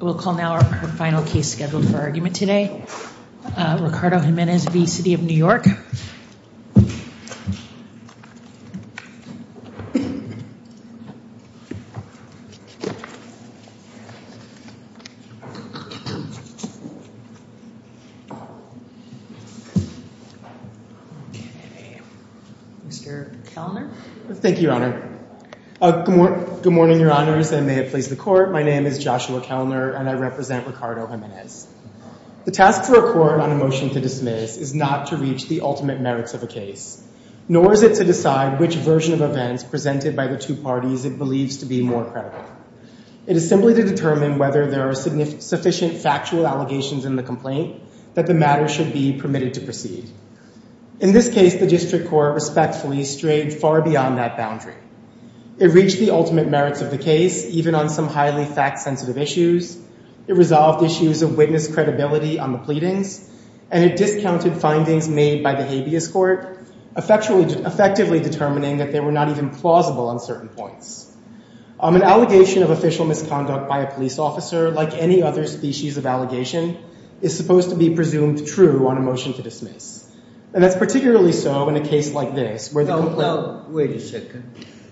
We'll call now our final case scheduled for argument today. Ricardo Jimenez v. City of New York. Mr. Kellner. Thank you, Your Honor. Good morning, Your Honors. I may have placed the court. My name is Joshua Kellner, and I represent Ricardo Jimenez. The task for a court on a motion to dismiss is not to reach the ultimate merits of a case, nor is it to decide which version of events presented by the two parties it believes to be more credible. It is simply to determine whether there are sufficient factual allegations in the complaint that the matter should be permitted to proceed. In this case, the district court respectfully strayed far beyond that boundary. It reached the ultimate merits of the case, even on some highly fact-sensitive issues. It resolved issues of witness credibility on the pleadings, and it discounted findings made by the habeas court, effectively determining that they were not even plausible on certain points. An allegation of official misconduct by a police officer, like any other species of allegation, is supposed to be presumed true on a motion to dismiss. And that's particularly so in a case like this, where the complaint- Wait a second.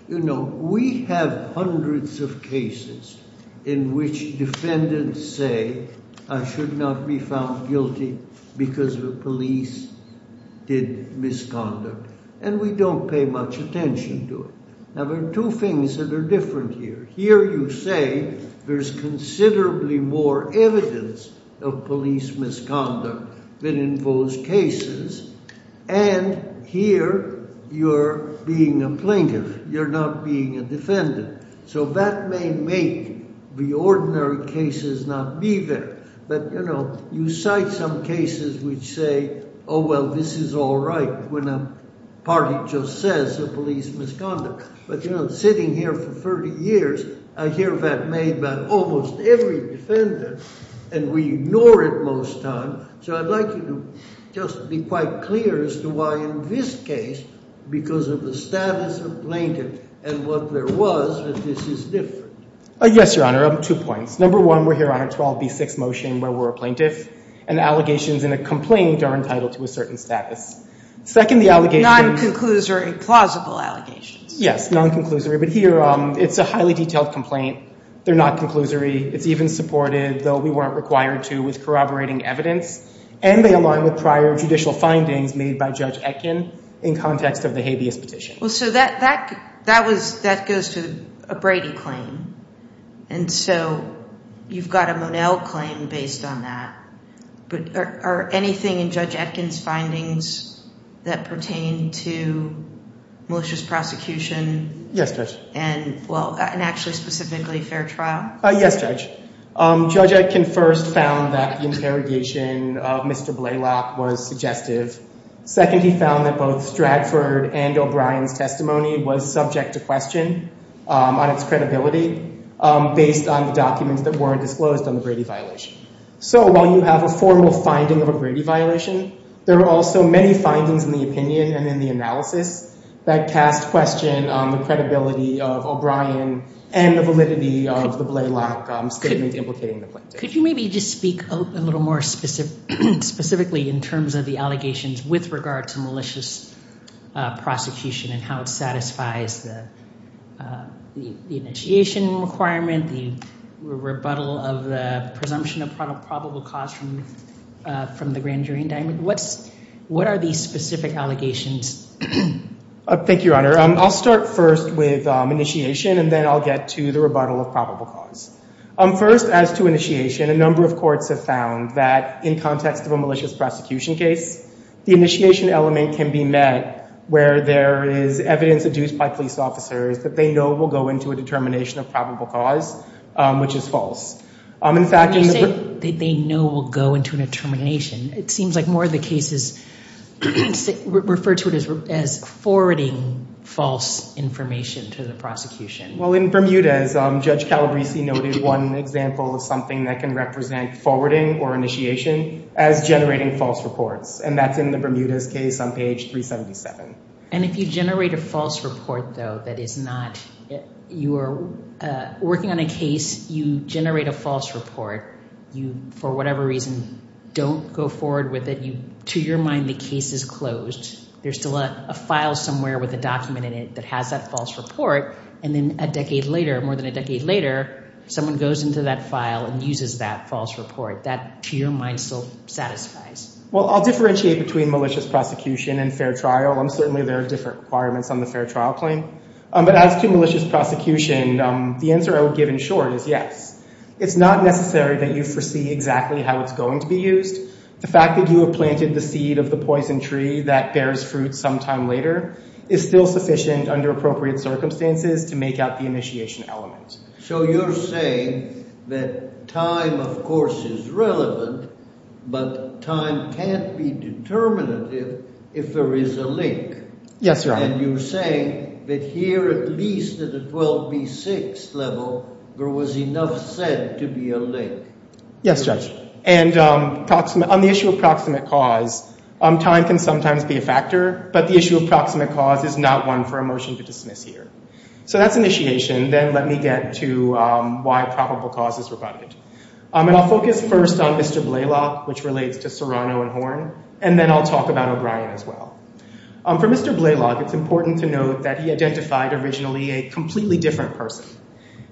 You know, we have hundreds of cases in which defendants say, I should not be found guilty because the police did misconduct, and we don't pay much attention to it. Now, there are two things that are different here. Here you say, there's considerably more evidence of police misconduct than in those cases, and here you're being a plaintiff, you're not being a defendant. So that may make the ordinary cases not be there. But you know, you cite some cases which say, oh well, this is all right, when a party just says the police misconduct. But you know, sitting here for 30 years, I hear that made by almost every defendant, and we ignore it most times. So I'd like you to just be quite clear as to why in this case, because of the status of plaintiff and what there was, that this is different. Yes, Your Honor, two points. Number one, we're here on a 12B6 motion where we're a plaintiff, and allegations in a complaint are entitled to a certain status. Second, the allegations- Non-conclusory, plausible allegations. Yes, non-conclusory. But here, it's a highly detailed complaint. They're not conclusory. It's even supported, though we weren't required to, with corroborating evidence. And they align with prior judicial findings made by Judge Etkin in context of the habeas petition. Well, so that goes to a Brady claim. And so you've got a Monell claim based on that. But are anything in Judge Etkin's findings that pertain to malicious prosecution? Yes, Judge. And well, and actually specifically fair trial? Yes, Judge. Judge Etkin first found that the interrogation of Mr. Blalock was suggestive. Second, he found that both Stratford and O'Brien's testimony was subject to question on its credibility based on the documents that were disclosed on the Brady violation. So while you have a formal finding of a Brady violation, there are also many findings in the opinion and in the analysis that cast question on the credibility of O'Brien and the validity of the Blalock statement implicating the plaintiff. Could you maybe just speak a little more specifically in terms of the allegations with regard to malicious prosecution and how it satisfies the initiation requirement, the rebuttal of the presumption of probable cause from the grand jury indictment? What are these specific allegations? Thank you, Your Honor. I'll start first with initiation. And then I'll get to the rebuttal of probable cause. First, as to initiation, a number of courts have found that in context of a malicious prosecution case, the initiation element can be met where there is evidence adduced by police officers that they know will go into a determination of probable cause, which is false. In fact- When you say they know will go into a determination, it seems like more of the cases refer to it as forwarding false information to the prosecution. Well, in Bermuda, as Judge Calabrese noted, one example of something that can represent forwarding or initiation as generating false reports. And that's in the Bermuda's case on page 377. And if you generate a false report, though, that is not, you are working on a case, you generate a false report. You, for whatever reason, don't go forward with it. To your mind, the case is closed. There's still a file somewhere with a document in it that has that false report. And then a decade later, more than a decade later, someone goes into that file and uses that false report. That, to your mind, still satisfies? Well, I'll differentiate between malicious prosecution and fair trial. Certainly there are different requirements on the fair trial claim. But as to malicious prosecution, the answer I would give in short is yes. It's not necessary that you foresee exactly how it's going to be used. The fact that you have planted the seed of the poison tree that bears fruit sometime later is still sufficient under appropriate circumstances to make out the initiation element. So you're saying that time, of course, is relevant, but time can't be determinative if there is a link. Yes, Your Honor. And you're saying that here, at least at the 12B6 level, there was enough said to be a link. Yes, Judge. And on the issue of proximate cause, time can sometimes be a factor, but the issue of proximate cause is not one for a motion to dismiss here. So that's initiation. Then let me get to why probable cause is rebutted. And I'll focus first on Mr. Blaylock, which relates to Serrano and Horn, and then I'll talk about O'Brien as well. For Mr. Blaylock, it's important to note that he identified originally a completely different person.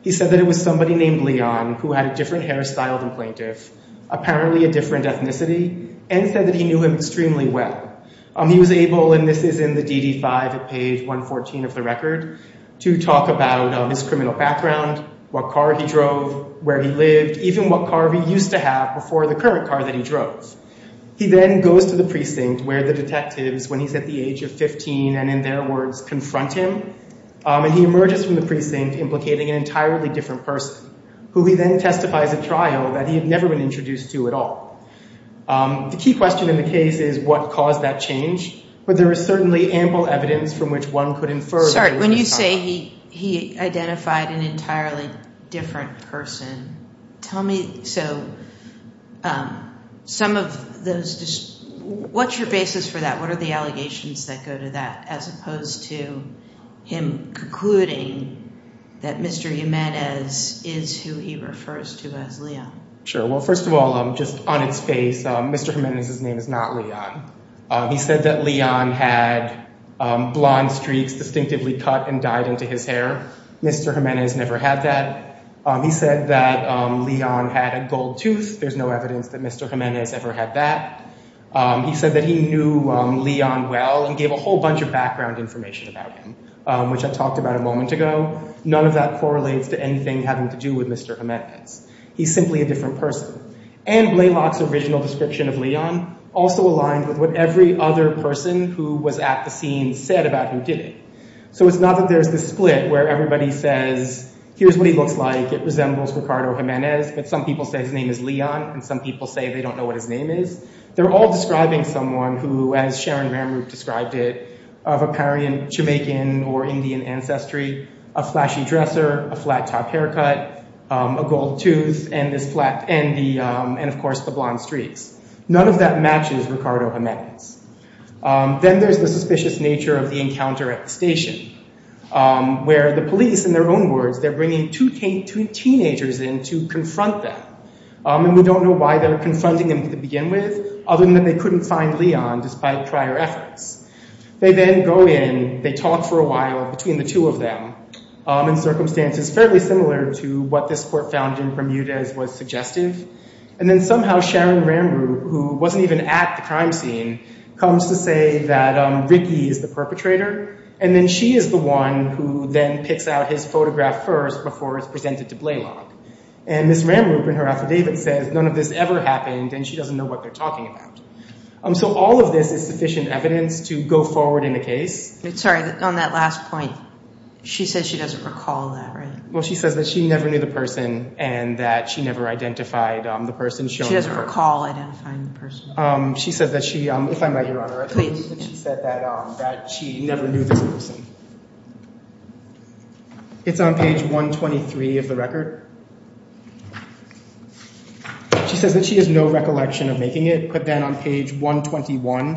He said that it was somebody named Leon who had a different hairstyle than plaintiff, apparently a different ethnicity, and said that he knew him extremely well. He was able, and this is in the DD-5 at page 114 of the record, to talk about his criminal background, what car he drove, where he lived, even what car he used to have before the current car that he drove. He then goes to the precinct where the detectives, when he's at the age of 15, and in their words, confront him, and he emerges from the precinct implicating an entirely different person, who he then testifies at trial that he had never been introduced to at all. The key question in the case is what caused that change, but there is certainly ample evidence from which one could infer that it was a child. Sorry, when you say he identified an entirely different person, tell me, so, some of those, what's your basis for that? What are the allegations that go to that, as opposed to him concluding that Mr. Jimenez is who he refers to as Leon? Sure, well, first of all, just on its face, Mr. Jimenez's name is not Leon. He said that Leon had blonde streaks distinctively cut and dyed into his hair. Mr. Jimenez never had that. He said that Leon had a gold tooth. There's no evidence that Mr. Jimenez ever had that. He said that he knew Leon well and gave a whole bunch of background information about him, which I talked about a moment ago. None of that correlates to anything having to do with Mr. Jimenez. He's simply a different person. And Blalock's original description of Leon also aligned with what every other person who was at the scene said about who did it. So it's not that there's this split where everybody says, here's what he looks like, it resembles Ricardo Jimenez, but some people say his name is Leon and some people say they don't know what his name is. They're all describing someone who, as Sharon Maramuth described it, of a Parian, Jamaican, or Indian ancestry, a flashy dresser, a flat-top haircut, a gold tooth, and of course, the blonde streaks. None of that matches Ricardo Jimenez. Then there's the suspicious nature of the encounter at the station, where the police, in their own words, they're bringing two teenagers in to confront them. And we don't know why they're confronting them to begin with, other than that they couldn't find Leon despite prior efforts. They then go in, they talk for a while between the two of them, in circumstances fairly similar to what this court found in Bermudez was suggestive. And then somehow Sharon Maramuth, who wasn't even at the crime scene, comes to say that Ricky is the perpetrator, and then she is the one who then picks out his photograph first before it's presented to Blaylock. And Ms. Maramuth, in her affidavit, says none of this ever happened and she doesn't know what they're talking about. So all of this is sufficient evidence to go forward in the case. Sorry, on that last point, she says she doesn't recall that, right? Well, she says that she never knew the person and that she never identified the person. She doesn't recall identifying the person. She says that she, if I might, Your Honor, I believe that she said that she never knew this person. It's on page 123 of the record. She says that she has no recollection of making it, but then on page 121,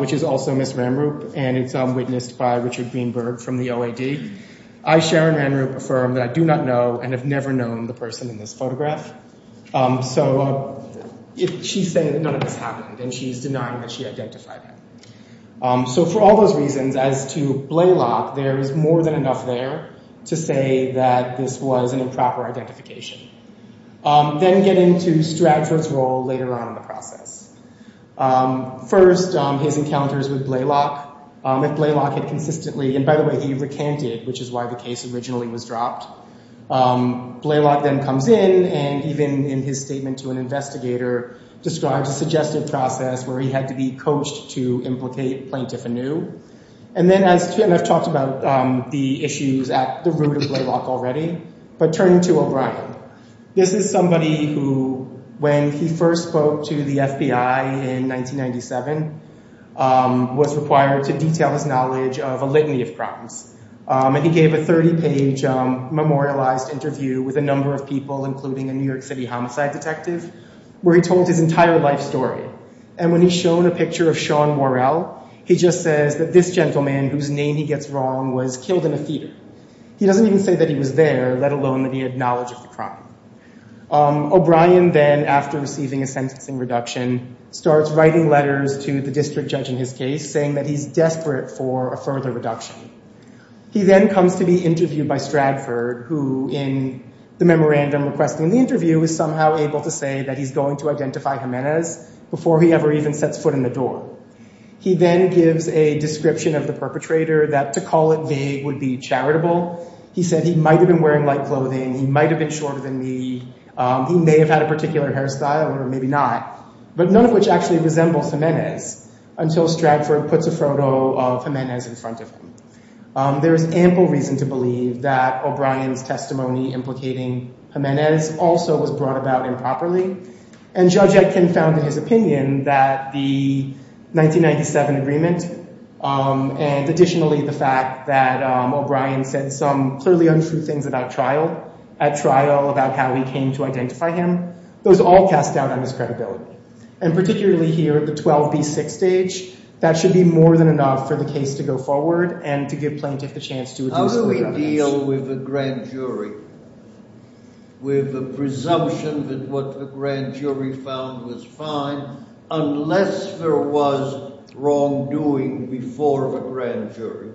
which is also Ms. Maramuth, and it's witnessed by Richard Greenberg from the OAD, I, Sharon Randrup, affirm that I do not know and have never known the person in this photograph. So she's saying that none of this happened and she's denying that she identified him. So for all those reasons, as to Blaylock, there is more than enough there to say that this was an improper identification. Then getting to Stratford's role later on in the process. First, his encounters with Blaylock. If Blaylock had consistently, and by the way, he recanted, which is why the case originally was dropped. Blaylock then comes in and even in his statement to an investigator, describes a suggestive process where he had to be coached to implicate plaintiff anew. And then as, and I've talked about the issues at the root of Blaylock already, but turning to O'Brien. This is somebody who, when he first spoke to the FBI, in 1997, was required to detail his knowledge of a litany of crimes. And he gave a 30-page memorialized interview with a number of people, including a New York City homicide detective, where he told his entire life story. And when he's shown a picture of Sean Worrell, he just says that this gentleman, whose name he gets wrong, was killed in a theater. He doesn't even say that he was there, let alone that he had knowledge of the crime. O'Brien then, after receiving a sentencing reduction, starts writing letters to the district judge in his case, saying that he's desperate for a further reduction. He then comes to be interviewed by Stradford, who in the memorandum requesting the interview is somehow able to say that he's going to identify Jimenez before he ever even sets foot in the door. He then gives a description of the perpetrator that to call it vague would be charitable. He said he might've been wearing light clothing, he might've been shorter than me, he may have had a particular hairstyle, or maybe not, but none of which actually resembles Jimenez, until Stradford puts a photo of Jimenez in front of him. There is ample reason to believe that O'Brien's testimony implicating Jimenez also was brought about improperly, and Judge Etkin found in his opinion that the 1997 agreement, and additionally the fact that O'Brien said some clearly untrue things about trial, at trial about how he came to identify him, those all cast doubt on his credibility. And particularly here at the 12B6 stage, that should be more than enough for the case to go forward and to give plaintiff the chance to reduce Jimenez. How do we deal with the grand jury? With the presumption that what the grand jury found was fine, unless there was wrongdoing before the grand jury?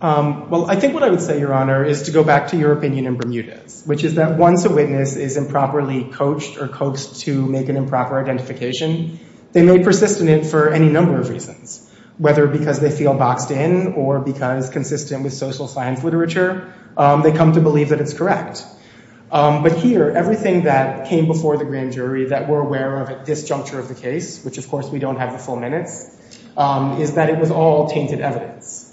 Well, I think what I would say, Your Honor, is to go back to your opinion in Bermudez, which is that once a witness is improperly coached or coaxed to make an improper identification, they may persist in it for any number of reasons, whether because they feel boxed in, or because consistent with social science literature, they come to believe that it's correct. But here, everything that came before the grand jury that we're aware of at this juncture of the case, which of course we don't have the full minutes, is that it was all tainted evidence.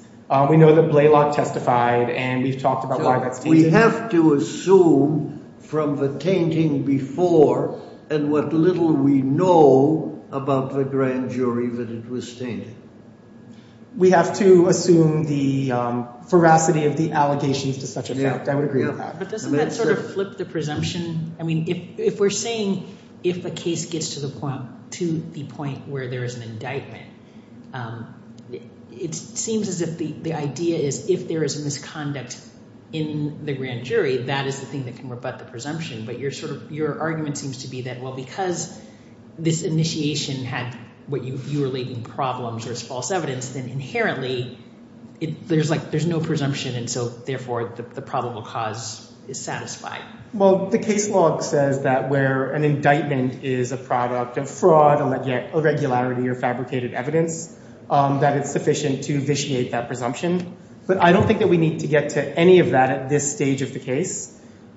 We know that Blaylock testified, and we've talked about why that's tainted. We have to assume from the tainting before and what little we know about the grand jury that it was tainted. We have to assume the ferocity of the allegations to such effect, I would agree with that. But doesn't that sort of flip the presumption? I mean, if we're saying if a case gets to the point where there is an indictment, it seems as if the idea is, if there is a misconduct in the grand jury, that is the thing that can rebut the presumption. But your argument seems to be that, well, because this initiation had what you view relating problems or is false evidence, then inherently, there's no presumption, and so therefore, the probable cause is satisfied. Well, the case law says that where an indictment is a product of fraud, irregularity, or fabricated evidence, that it's sufficient to vitiate that presumption. But I don't think that we need to get to any of that at this stage of the case.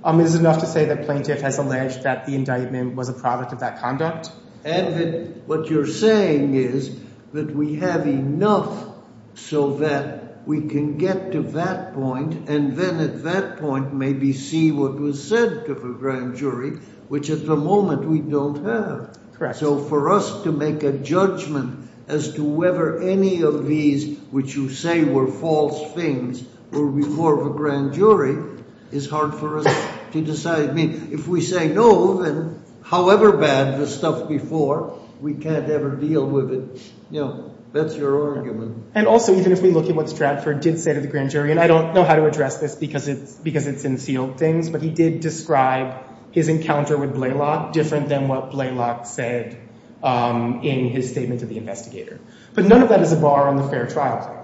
It's enough to say that plaintiff has alleged that the indictment was a product of that conduct. And that what you're saying is that we have enough so that we can get to that point, and then at that point, maybe see what was said to the grand jury, which at the moment, we don't have. So for us to make a judgment as to whether any of these, which you say were false things, were before the grand jury is hard for us to decide. I mean, if we say no, then however bad the stuff before, we can't ever deal with it. You know, that's your argument. And also, even if we look at what Stratford did say to the grand jury, and I don't know how to address this because it's in sealed things, but he did describe his encounter with Blaylock different than what Blaylock said in his statement to the investigator. But none of that is a bar on the fair trial claim.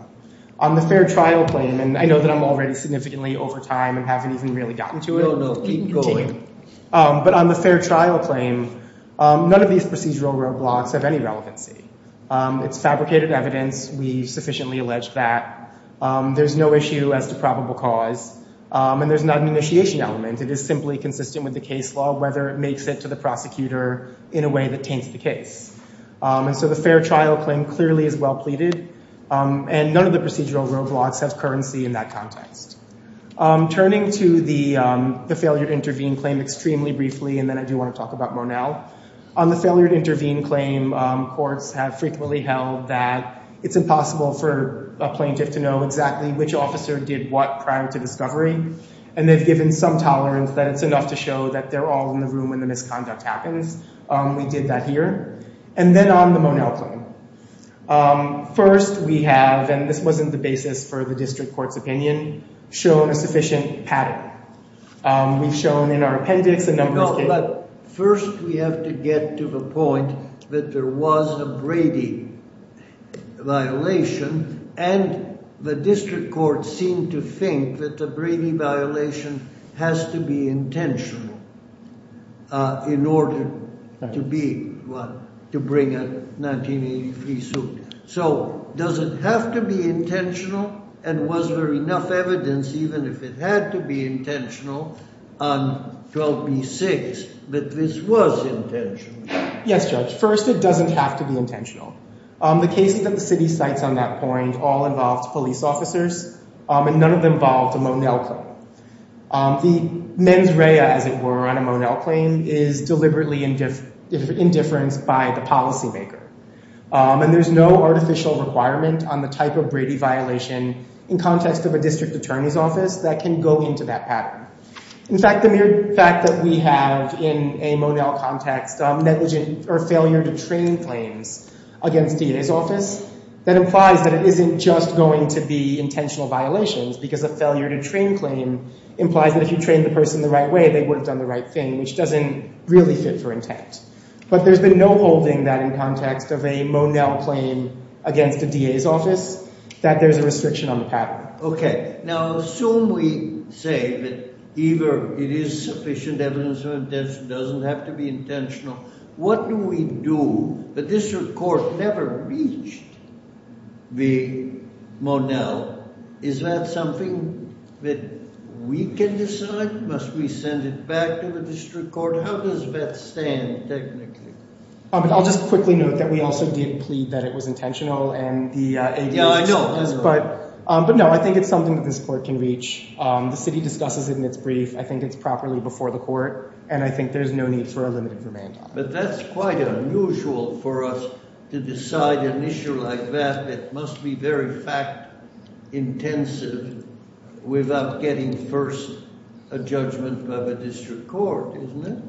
On the fair trial claim, and I know that I'm already significantly over time and haven't even really gotten to it. No, no, keep going. But on the fair trial claim, none of these procedural roadblocks have any relevancy. It's fabricated evidence. We've sufficiently alleged that. There's no issue as to probable cause. And there's not an initiation element. It is simply consistent with the case law, whether it makes it to the prosecutor in a way that taints the case. And so the fair trial claim clearly is well pleaded. And none of the procedural roadblocks have currency in that context. Turning to the failure to intervene claim extremely briefly, and then I do want to talk about Monell. On the failure to intervene claim, courts have frequently held that it's impossible for a plaintiff to know exactly which officer did what prior to discovery. And they've given some tolerance that it's enough to show that they're all in the room when the misconduct happens. We did that here. And then on the Monell claim. First, we have, and this wasn't the basis for the district court's opinion, shown a sufficient pattern. We've shown in our appendix a number of cases. First, we have to get to the point that there was a Brady violation, and the district court seemed to think that the Brady violation has to be intentional in order to bring a 1983 suit. So does it have to be intentional, and was there enough evidence, even if it had to be intentional, on 12B6 that this was intentional? Yes, Judge. First, it doesn't have to be intentional. The cases that the city cites on that point all involved police officers, and none of them involved a Monell claim. The mens rea, as it were, on a Monell claim is deliberately indifference by the policymaker. And there's no artificial requirement on the type of Brady violation in context of a district attorney's office that can go into that pattern. In fact, the mere fact that we have, in a Monell context, negligent or failure to train claims, against DA's office, that implies that it isn't just going to be intentional violations, because a failure to train claim implies that if you trained the person the right way, they would have done the right thing, which doesn't really fit for intent. But there's been no holding that in context of a Monell claim against a DA's office, that there's a restriction on the pattern. Okay, now assume we say that either it is sufficient evidence of intention, doesn't have to be intentional. What do we do? The district court never reached the Monell. Is that something that we can decide? Must we send it back to the district court? How does that stand, technically? I'll just quickly note that we also did plead that it was intentional, and the DA's office does, but no, I think it's something that this court can reach. The city discusses it in its brief. I think it's properly before the court, and I think there's no need for a limited remand. But that's quite unusual for us to decide an issue like that. It must be very fact intensive without getting first a judgment by the district court, isn't it?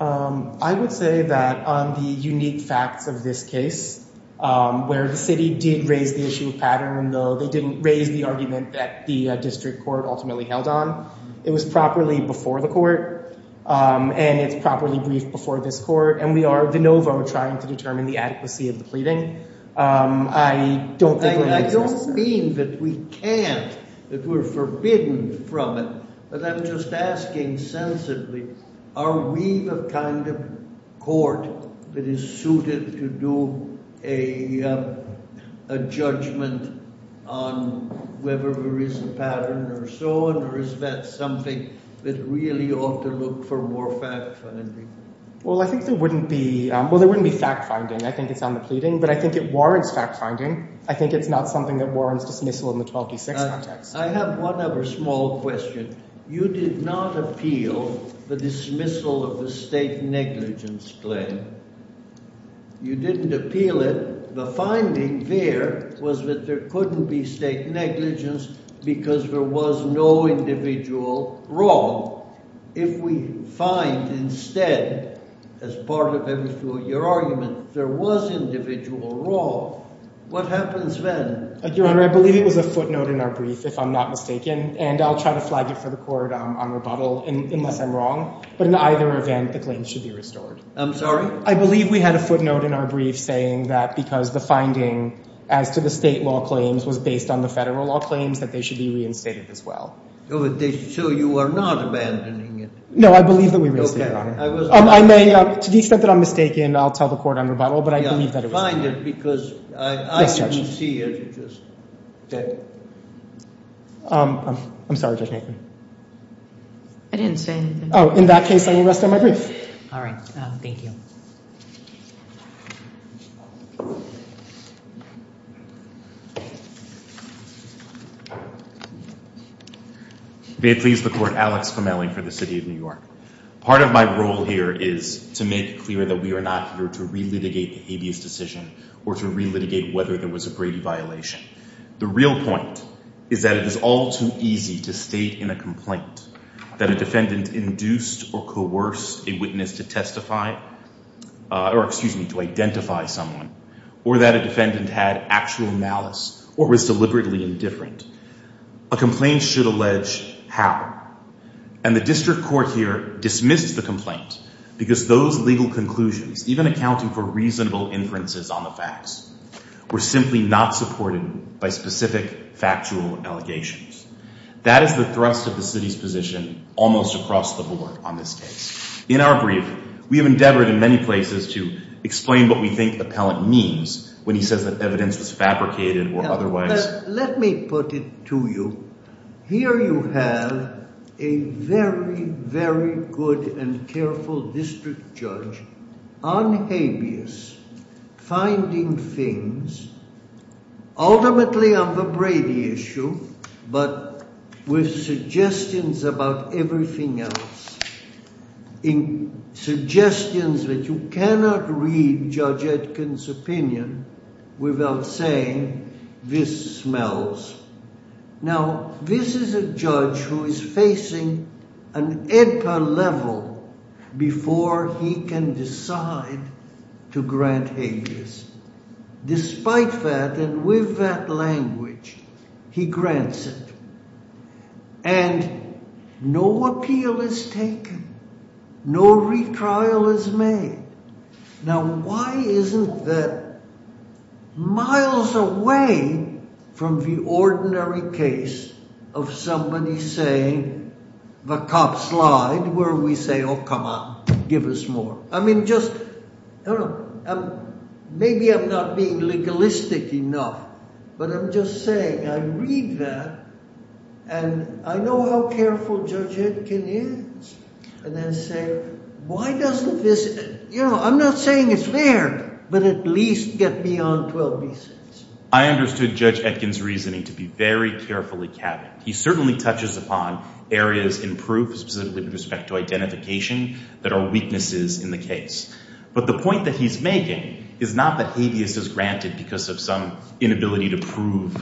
I would say that on the unique facts of this case, where the city did raise the issue of pattern, though they didn't raise the argument that the district court ultimately held on, it was properly before the court, and it's properly briefed before this court, and we are de novo trying to determine the adequacy of the pleading. I don't think we're in excess of that. I don't mean that we can't, that we're forbidden from it, but I'm just asking sensibly, are we the kind of court that is suited to do a judgment on whether there is a pattern or so, or is that something that really ought to look for more fact finding? Well, I think there wouldn't be, well, there wouldn't be fact finding. I think it's on the pleading, but I think it warrants fact finding. I think it's not something that warrants dismissal in the 12D6 context. I have one other small question. You did not appeal the dismissal of the state negligence claim. You didn't appeal it. The finding there was that there couldn't be state negligence because there was no individual wrong. If we find instead, as part of your argument, there was individual wrong, what happens then? Your Honor, I believe it was a footnote in our brief, if I'm not mistaken, and I'll try to flag it for the court on rebuttal, unless I'm wrong, but in either event, the claim should be restored. I'm sorry? I believe we had a footnote in our brief saying that because the finding as to the state law claims was based on the federal law claims that they should be reinstated as well. So you are not abandoning it? No, I believe that we reinstated it, Your Honor. I may, to the extent that I'm mistaken, I'll tell the court on rebuttal, but I believe that it was fine. Yeah, find it, because I didn't see it, it was dead. I'm sorry, Judge Nathan. I didn't say anything. Oh, in that case, I will rest on my brief. All right, thank you. May it please the court, Alex Fomelli for the city of New York. Part of my role here is to make it clear that we are not here to re-litigate the habeas decision or to re-litigate whether there was a Brady violation. The real point is that it is all too easy to state in a complaint that a defendant induced or coerced a witness to testify, or excuse me, to identify someone, or that a defendant had actual malice or resented the defendant's actions. This is deliberately indifferent. A complaint should allege how, and the district court here dismissed the complaint because those legal conclusions, even accounting for reasonable inferences on the facts, were simply not supported by specific factual allegations. That is the thrust of the city's position almost across the board on this case. In our brief, we have endeavored in many places to explain what we think appellant means when he says that evidence was fabricated or otherwise. Let me put it to you. Here you have a very, very good and careful district judge on habeas, finding things, ultimately on the Brady issue, but with suggestions about everything else. In suggestions that you cannot read Judge Aitken's opinion without saying, this smells. Now, this is a judge who is facing an edpa level before he can decide to grant habeas. Despite that, and with that language, he grants it. And no appeal is taken. No retrial is made. Now, why isn't that miles away from the ordinary case of somebody saying, the cops lied, where we say, oh, come on, give us more. I mean, just, maybe I'm not being legalistic enough, but I'm just saying, I read that, and I know how careful Judge Aitken is. And then say, why doesn't this, you know, I'm not saying it's fair, but at least get beyond 12B6. I understood Judge Aitken's reasoning to be very carefully cabined. He certainly touches upon areas in proof, specifically with respect to identification, that are weaknesses in the case. But the point that he's making is not that habeas is granted because of some inability to prove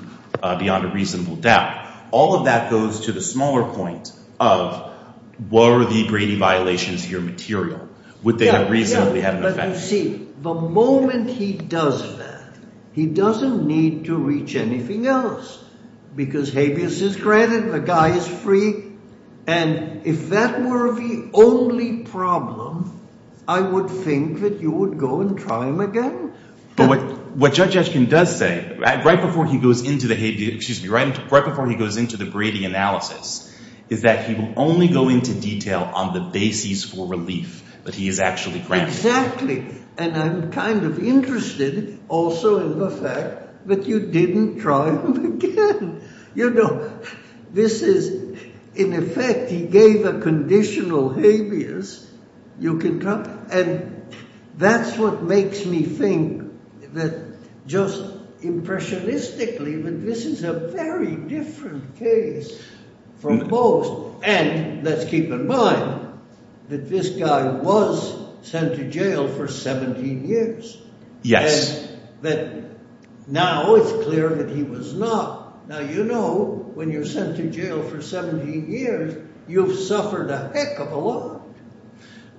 beyond a reasonable doubt. All of that goes to the smaller point of, were the Brady violations here material? Would they have reasonably had an effect? But you see, the moment he does that, he doesn't need to reach anything else because habeas is granted, the guy is free. And if that were the only problem, I would think that you would go and try him again. But what Judge Aitken does say, right before he goes into the Brady analysis, is that he will only go into detail on the basis for relief that he is actually granted. Exactly. And I'm kind of interested also in the fact that you didn't try him again. You know, this is, in effect, he gave a conditional habeas, you can drop it. And that's what makes me think that, just impressionistically, that this is a very different case from most. And let's keep in mind that this guy was sent to jail for 17 years. Yes. That now it's clear that he was not. Now, you know, when you're sent to jail for 17 years, you've suffered a heck of a lot.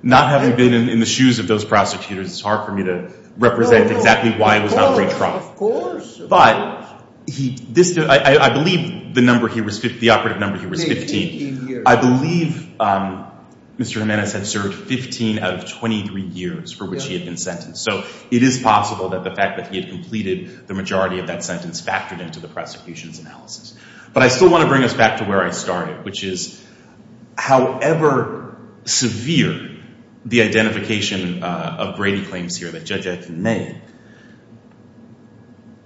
Not having been in the shoes of those prosecutors, it's hard for me to represent exactly why he was not re-tried. Of course. But I believe the number he was, the operative number he was 15. I believe Mr. Jimenez had served 15 out of 23 years for which he had been sentenced. So it is possible that the fact that he had completed the majority of that sentence factored into the prosecution's analysis. But I still want to bring us back to where I started, which is, however severe the identification of Brady claims here that Judge Etten made,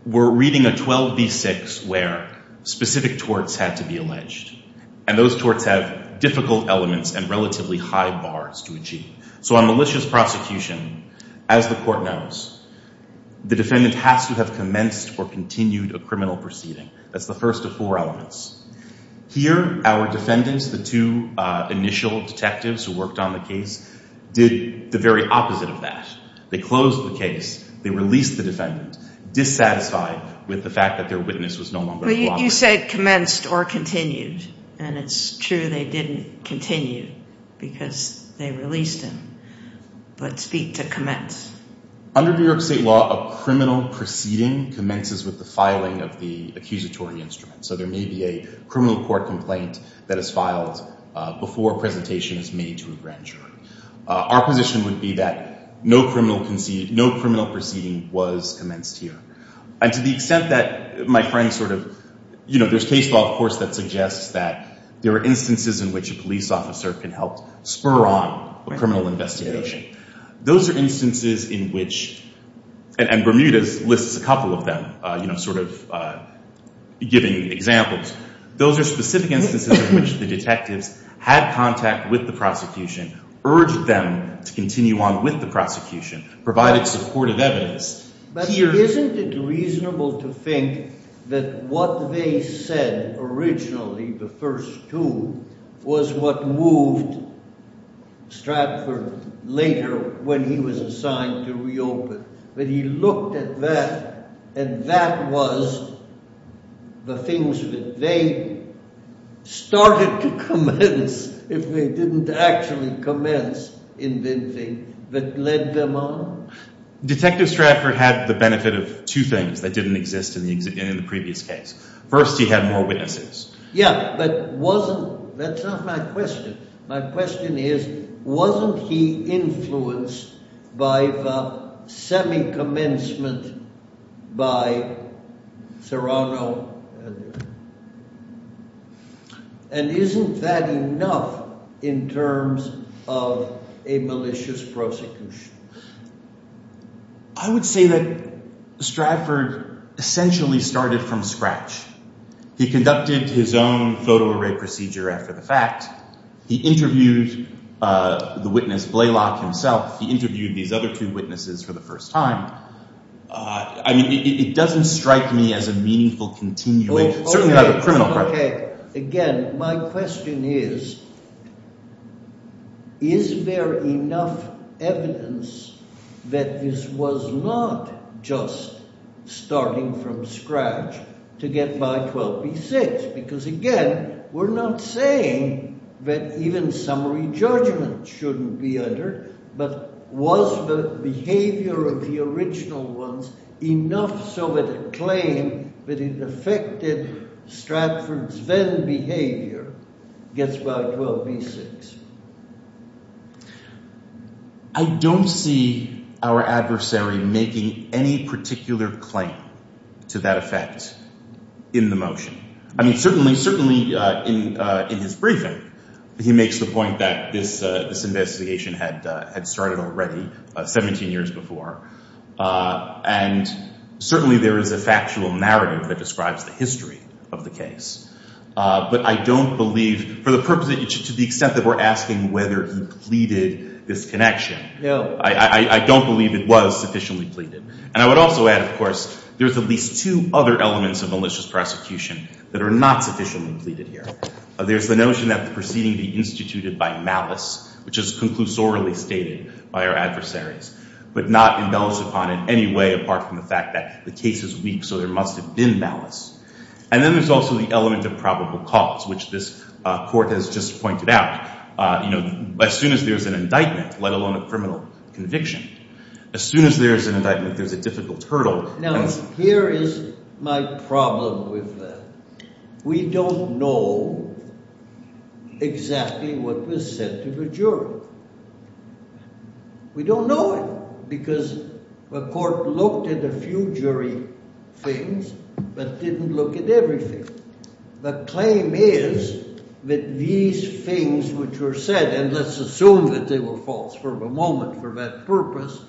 we're reading a 12B6 where specific torts had to be alleged. And those torts have difficult elements and relatively high bars to achieve. So on malicious prosecution, as the court knows, the defendant has to have commenced or continued a criminal proceeding. That's the first of four elements. Here, our defendants, the two initial detectives who worked on the case, did the very opposite of that. They closed the case. They released the defendant dissatisfied with the fact that their witness was no longer a property. You said commenced or continued, and it's true they didn't continue because they released him. But speak to commence. Under New York State law, a criminal proceeding commences with the filing of the accusatory instrument. So there may be a criminal court complaint that is filed before a presentation is made to a grand jury. Our position would be that no criminal conceded, no criminal proceeding was commenced here. And to the extent that my friend sort of, you know, there's case law, of course, that suggests that there are instances in which a police officer can help spur on a criminal investigation. Those are instances in which, and Bermuda lists a couple of them, you know, sort of giving examples. Those are specific instances in which the detectives had contact with the prosecution, urged them to continue on with the prosecution, provided supportive evidence. But isn't it reasonable to think that what they said originally, the first two, was what moved Stratford later when he was assigned to reopen? That he looked at that, and that was the things that they started to commence if they didn't actually commence inventing that led them on? Detective Stratford had the benefit of two things that didn't exist in the previous case. First, he had more witnesses. Yeah, but wasn't, that's not my question. My question is, wasn't he influenced by the semi-commencement by Serrano? And isn't that enough in terms of a malicious prosecution? I would say that Stratford essentially started from scratch. He conducted his own photo-array procedure after the fact. He interviewed the witness, Blalock himself. He interviewed these other two witnesses for the first time. I mean, it doesn't strike me as a meaningful continuation. Certainly not a criminal crime. Again, my question is, is there enough evidence that this was not just starting from scratch to get by 12B6? Because again, we're not saying that even summary judgment shouldn't be under, but was the behavior of the original ones enough so that a claim that it affected Stratford's then behavior gets by 12B6? I don't see our adversary making any particular claim to that effect in the motion. I mean, certainly in his briefing, he makes the point that this investigation had started already 17 years before. And certainly there is a factual narrative that describes the history of the case. But I don't believe, for the purpose, to the extent that we're asking whether he pleaded this connection, I don't believe it was sufficiently pleaded. And I would also add, of course, there's at least two other elements of malicious prosecution that are not sufficiently pleaded here. There's the notion that the proceeding be instituted by malice, which is conclusorily stated by our adversaries, but not imbalanced upon in any way apart from the fact that the case is weak, so there must have been malice. And then there's also the element of probable cause, which this court has just pointed out. As soon as there's an indictment, let alone a criminal conviction, as soon as there's an indictment, there's a difficult hurdle. Now, here is my problem with that. We don't know exactly what was said to the jury. We don't know it, because the court looked at a few jury things, but didn't look at everything. The claim is that these things which were said, and let's assume that they were false for the moment for that purpose,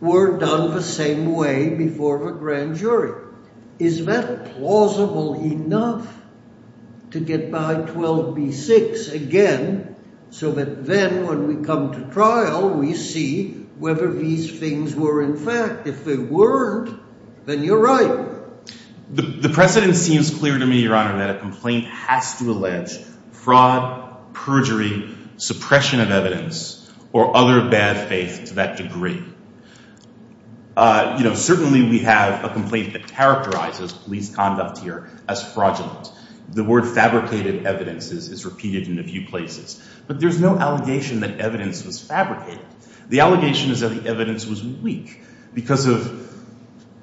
were done the same way before the grand jury. Is that plausible enough to get by 12b-6 again, so that then when we come to trial, we see whether these things were in fact. If they weren't, then you're right. The precedent seems clear to me, Your Honor, that a complaint has to allege fraud, perjury, suppression of evidence, or other bad faith to that degree. Certainly, we have a complaint that characterizes police conduct here as fraudulent. The word fabricated evidence is repeated in a few places, but there's no allegation that evidence was fabricated. The allegation is that the evidence was weak because of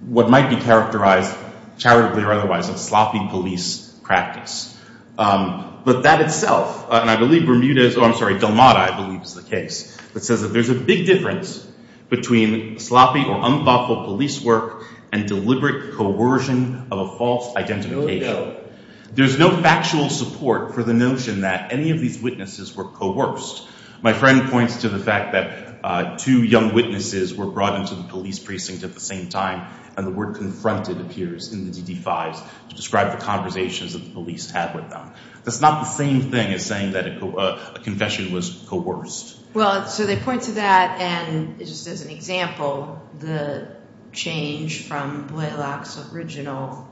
what might be characterized charitably or otherwise of sloppy police practice. But that itself, and I believe Bermuda's, I'm sorry, Delmata, I believe is the case, that says that there's a big difference between the two cases, between sloppy or unthoughtful police work and deliberate coercion of a false identification. There's no factual support for the notion that any of these witnesses were coerced. My friend points to the fact that two young witnesses were brought into the police precinct at the same time, and the word confronted appears in the DD-5s to describe the conversations that the police had with them. That's not the same thing as saying that a confession was coerced. Well, so they point to that, and just as an example, the change from Blaylock's original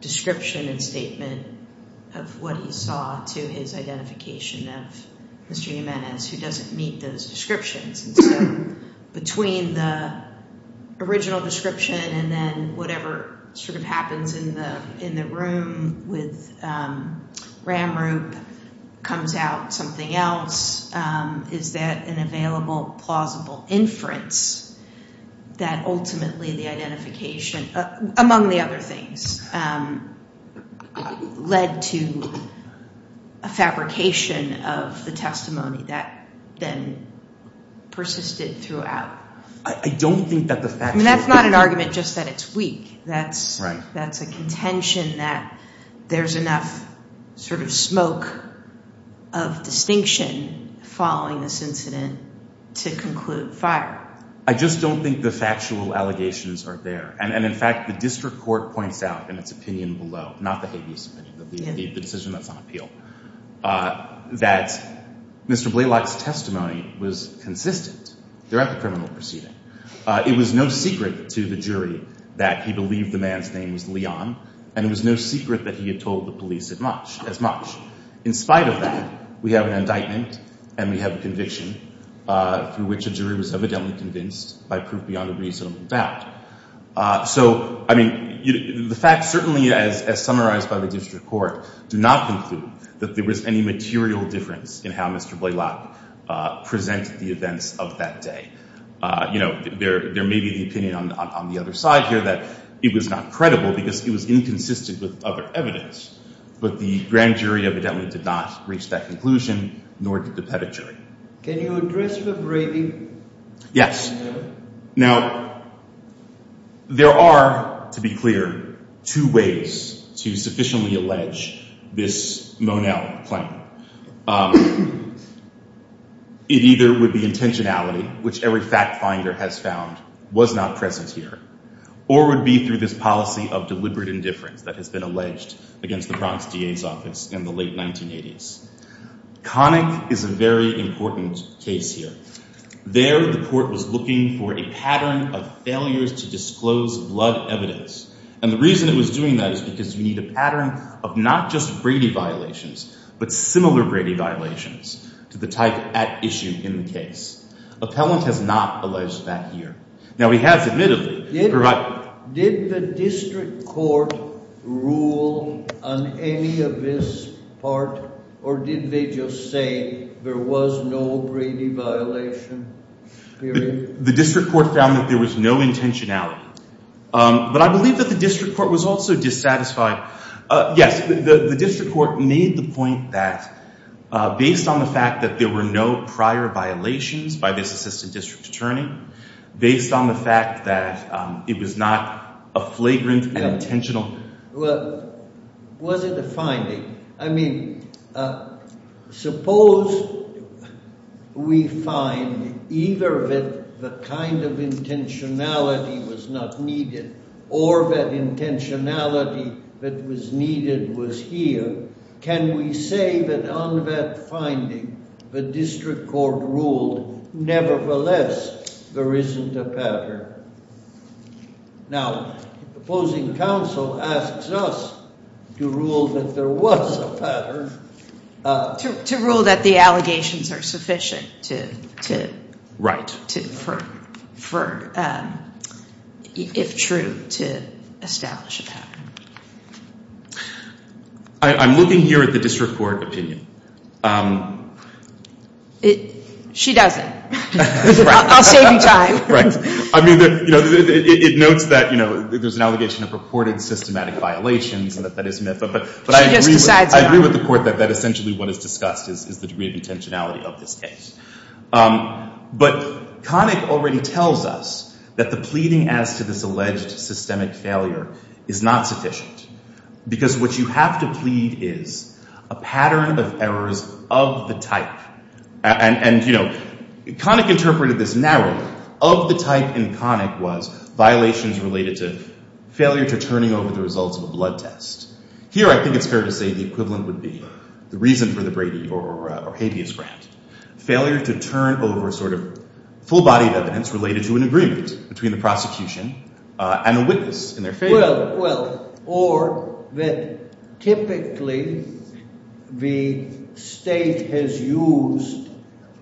description and statement of what he saw to his identification of Mr. Jimenez, who doesn't meet those descriptions. And so between the original description and then whatever sort of happens in the room with Ramrup comes out something else, is that an available, plausible inference that ultimately the identification, among the other things, led to a fabrication of the testimony that then persisted throughout. I don't think that the factual support- I mean, that's not an argument just that it's weak. That's a contention that there's enough sort of smoke of distinction following this incident to conclude fire. I just don't think the factual allegations are there. And in fact, the district court points out in its opinion below, not the habeas opinion, the decision that's on appeal, that Mr. Blaylock's testimony was consistent throughout the criminal proceeding. It was no secret to the jury that he believed the man's name was Leon, and it was no secret that he had told the police as much. In spite of that, we have an indictment and we have a conviction through which a jury was evidently convinced by proof beyond a reasonable doubt. So, I mean, the fact certainly, as summarized by the district court, do not conclude that there was any material difference in how Mr. Blaylock presented the events of that day. You know, there may be the opinion on the other side here that it was not credible because it was inconsistent with other evidence. But the grand jury evidently did not reach that conclusion, nor did the pedigree. Can you address the braving? Yes. Now, there are, to be clear, two ways to sufficiently allege this Monell claim. It either would be intentionality, which every fact finder has found was not present here, or would be through this policy of deliberate indifference that has been alleged against the Bronx DA's office in the late 1980s. Connick is a very important case here. There, the court was looking for a pattern of failures to disclose blood evidence. And the reason it was doing that is because you need a pattern of not just Brady violations, but similar Brady violations to the type at issue in the case. Appellant has not alleged that here. Now, he has admittedly provided... Did the district court rule on any of this part, or did they just say there was no Brady violation, period? The district court found that there was no intentionality. But I believe that the district court was also dissatisfied. Yes, the district court made the point that, based on the fact that there were no prior violations by this assistant district attorney, based on the fact that it was not a flagrant and intentional... Well, was it a finding? I mean, suppose we find either that the kind of intentionality was not needed, or that intentionality that was needed was here. Can we say that on that finding, the district court ruled, nevertheless, there isn't a pattern? Now, opposing counsel asks us to rule that there was a pattern. To rule that the allegations are sufficient to... Right. ...for, if true, to establish a pattern. I'm looking here at the district court opinion. She doesn't. Right. I'll save you time. I mean, you know, it notes that, you know, there's an allegation of purported systematic violations, and that that is a myth. But I agree with the court that essentially what is discussed is the degree of intentionality of this case. But Connick already tells us that the pleading as to this alleged systemic failure is not sufficient, because what you have to plead is a pattern of errors of the type. And, you know, Connick interpreted this narrowly. Of the type in Connick was violations related to failure to turning over the results of a blood test. Here, I think it's fair to say the equivalent would be the reason for the Brady or habeas grant. Failure to turn over sort of full-bodied evidence related to an agreement between the prosecution and the witness in their favor. Well, or that typically the state has used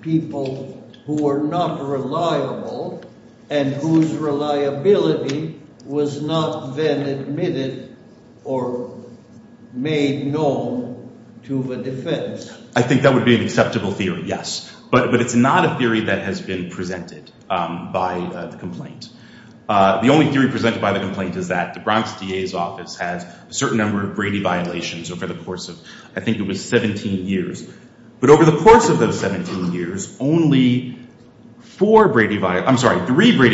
people who are not reliable and whose reliability was not then admitted or made known to the defense. I think that would be an acceptable theory, yes. But it's not a theory that has been presented by the complaint. The only theory presented by the complaint is that the Bronx DA's office has a certain number of Brady violations over the course of, I think it was 17 years. But over the course of those 17 years, only three Brady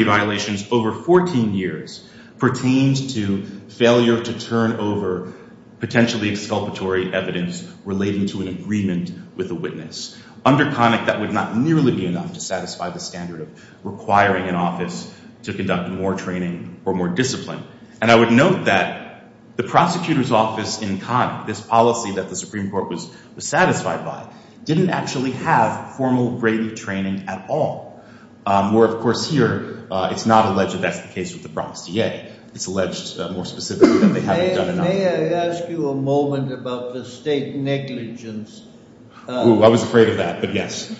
violations over 14 years pertained to failure to turn over potentially exculpatory evidence relating to an agreement with the witness. Under Connick, that would not nearly be enough to satisfy the standard of requiring an office to conduct more training or more discipline. And I would note that the prosecutor's office in Connick, this policy that the Supreme Court was satisfied by, didn't actually have formal Brady training at all. Where, of course, here it's not alleged that that's the case with the Bronx DA. It's alleged more specifically that they haven't done enough. May I ask you a moment about the state negligence? Ooh, I was afraid of that, but yes.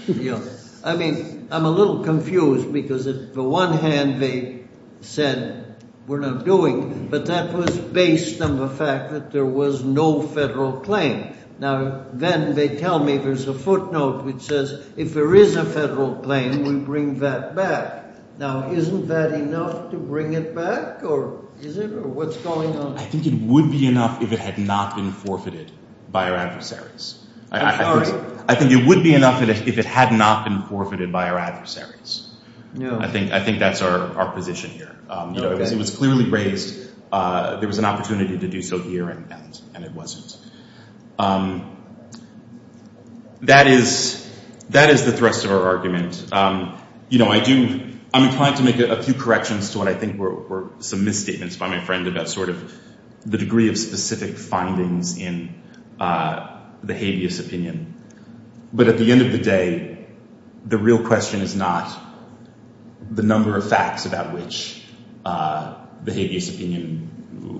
I mean, I'm a little confused, because on the one hand they said, we're not doing it, but that was based on the fact that there was no federal claim. Now, then they tell me there's a footnote which says, if there is a federal claim, we bring that back. Now, isn't that enough to bring it back? Or is it? Or what's going on? I think it would be enough if it had not been forfeited by our adversaries. I think it would be enough if it had not been forfeited by our adversaries. I think that's our position here. It was clearly raised, there was an opportunity to do so here, and it wasn't. That is the thrust of our argument. I'm inclined to make a few corrections to what I think were some misstatements by my friend about sort of the degree of specific findings in the habeas opinion. But at the end of the day, the real question is not the number of facts about which the habeas opinion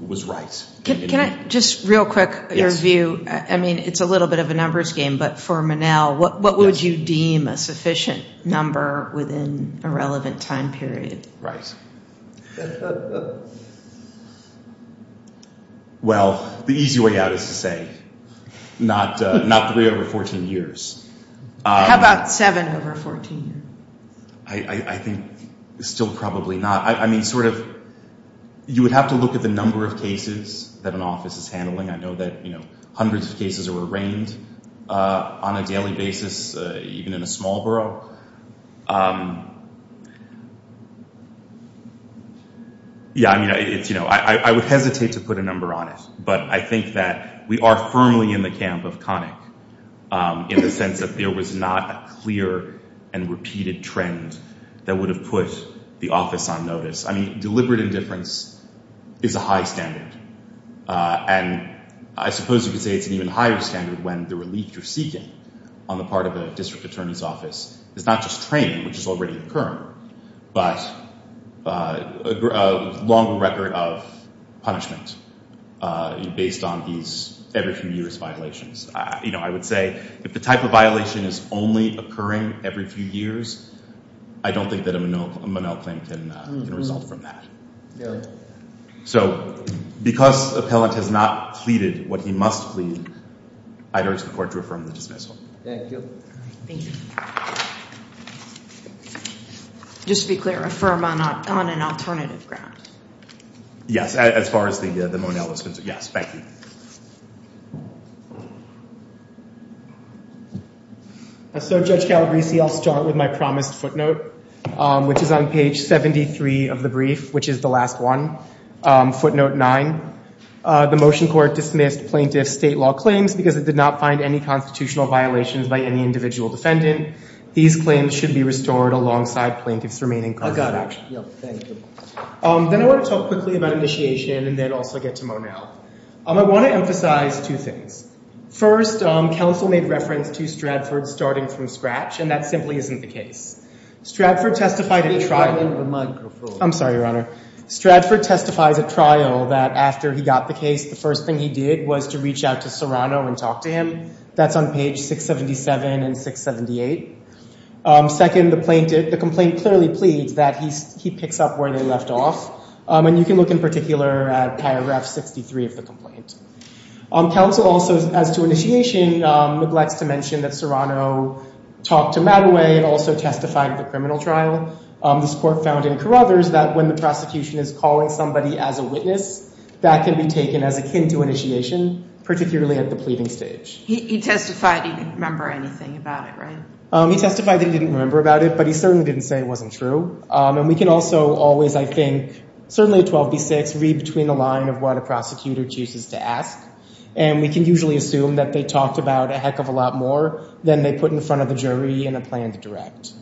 was right. Can I just, real quick, your view? I mean, it's a little bit of a numbers game, but for Manel, what would you deem a sufficient number within a relevant time period? Right. Well, the easy way out is to say not 3 over 14 years. How about 7 over 14? I think still probably not. I mean, sort of, you would have to look at the number of cases that an office is handling. I know that hundreds of cases are arraigned on a daily basis, even in a small borough. Yeah, I mean, it's, you know, I would hesitate to put a number on it. But I think that we are firmly in the camp of Connick in the sense that there was not a clear and repeated trend that would have put the office on notice. I mean, deliberate indifference is a high standard. And I suppose you could say it's an even higher standard when the relief you're seeking on the part of the district attorney's office is not just training, which is already occurring, but a longer record of punishment based on these every few years violations. You know, I would say if the type of violation is only occurring every few years, I don't think that a Manel claim can result from that. Yeah. So because the appellant has not pleaded what he must plead, I'd urge the court to affirm the dismissal. Thank you. Just to be clear, affirm on an alternative ground? Yes, as far as the Manel is concerned. Yes, thank you. So Judge Calabresi, I'll start with my promised footnote, which is on page 73 of the brief, which is the last one, footnote 9. The motion court dismissed plaintiff's state law claims because it did not find any constitutional violations by any individual defendant. These claims should be restored alongside plaintiff's remaining constitutional action. Thank you. Then I want to talk quickly about initiation and then also get to Manel. I want to emphasize two things. First, counsel made reference to Stratford starting from scratch, and that simply isn't the case. I'm sorry, Your Honor. Stratford testifies at trial that after he got the case, the first thing he did was to reach out to Serrano and talk to him. That's on page 677 and 678. Second, the complaint clearly pleads that he picks up where they left off, and you can look in particular at paragraph 63 of the complaint. Counsel also, as to initiation, neglects to mention that Serrano talked to Mattaway and also testified at the criminal trial. This court found in Carruthers that when the prosecution is calling somebody as a witness, that can be taken as akin to initiation, particularly at the pleading stage. He testified he didn't remember anything about it, right? He testified that he didn't remember about it, but he certainly didn't say it wasn't true. And we can also always, I think, certainly at 12b-6, read between the line of what a prosecutor chooses to ask, and we can usually assume that they talked about a heck of a lot more than they put in front of the jury in a planned direct.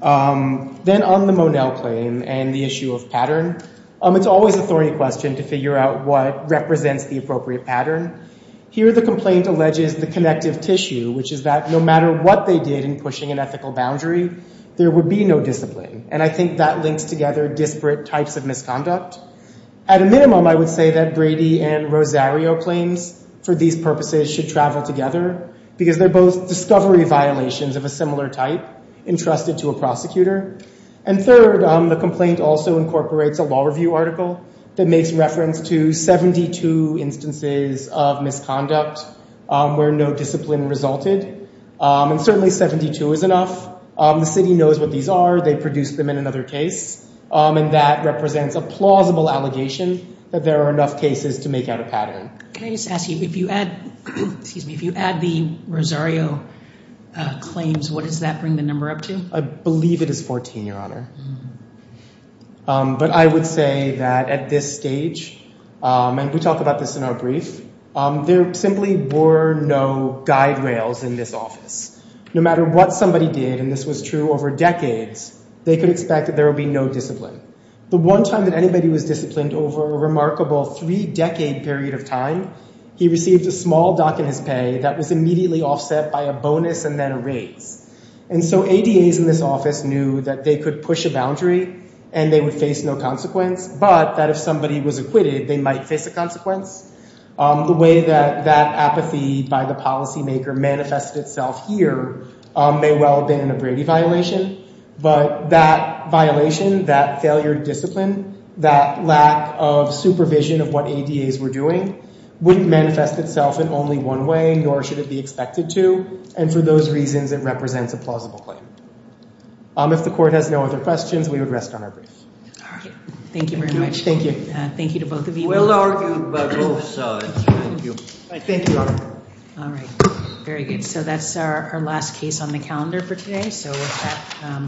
Then on the Monell claim and the issue of pattern, it's always a thorny question to figure out what represents the appropriate pattern. Here the complaint alleges the connective tissue, which is that no matter what they did in pushing an ethical boundary, there would be no discipline, and I think that links together disparate types of misconduct. At a minimum, I would say that Brady and Rosario claims for these purposes should travel together, because they're both discovery violations of a similar type entrusted to a prosecutor. And third, the complaint also incorporates a law review article that makes reference to 72 instances of misconduct where no discipline resulted, and certainly 72 is enough. The city knows what these are. They produced them in another case, and that represents a plausible allegation that there are enough cases to make out a pattern. Can I just ask you, if you add the Rosario claims, what does that bring the number up to? I believe it is 14, Your Honor. But I would say that at this stage, and we talk about this in our brief, there simply were no guide rails in this office. No matter what somebody did, and this was true over decades, they could expect that there would be no discipline. The one time that anybody was disciplined over a remarkable three-decade period of time, he received a small dock in his pay that was immediately offset by a bonus and then a raise. And so ADAs in this office knew that they could push a boundary and they would face no consequence, but that if somebody was acquitted, they might face a consequence. The way that that apathy by the policymaker manifested itself here may well have been a Brady violation, but that violation, that failure to discipline, that lack of supervision of what ADAs were doing, wouldn't manifest itself in only one way, nor should it be expected to, and for those reasons it represents a plausible claim. If the court has no other questions, we would rest on our brief. Thank you very much. Thank you. We'll argue about both sides. Thank you, Your Honor. Very good. So that's our last case on the calendar for today.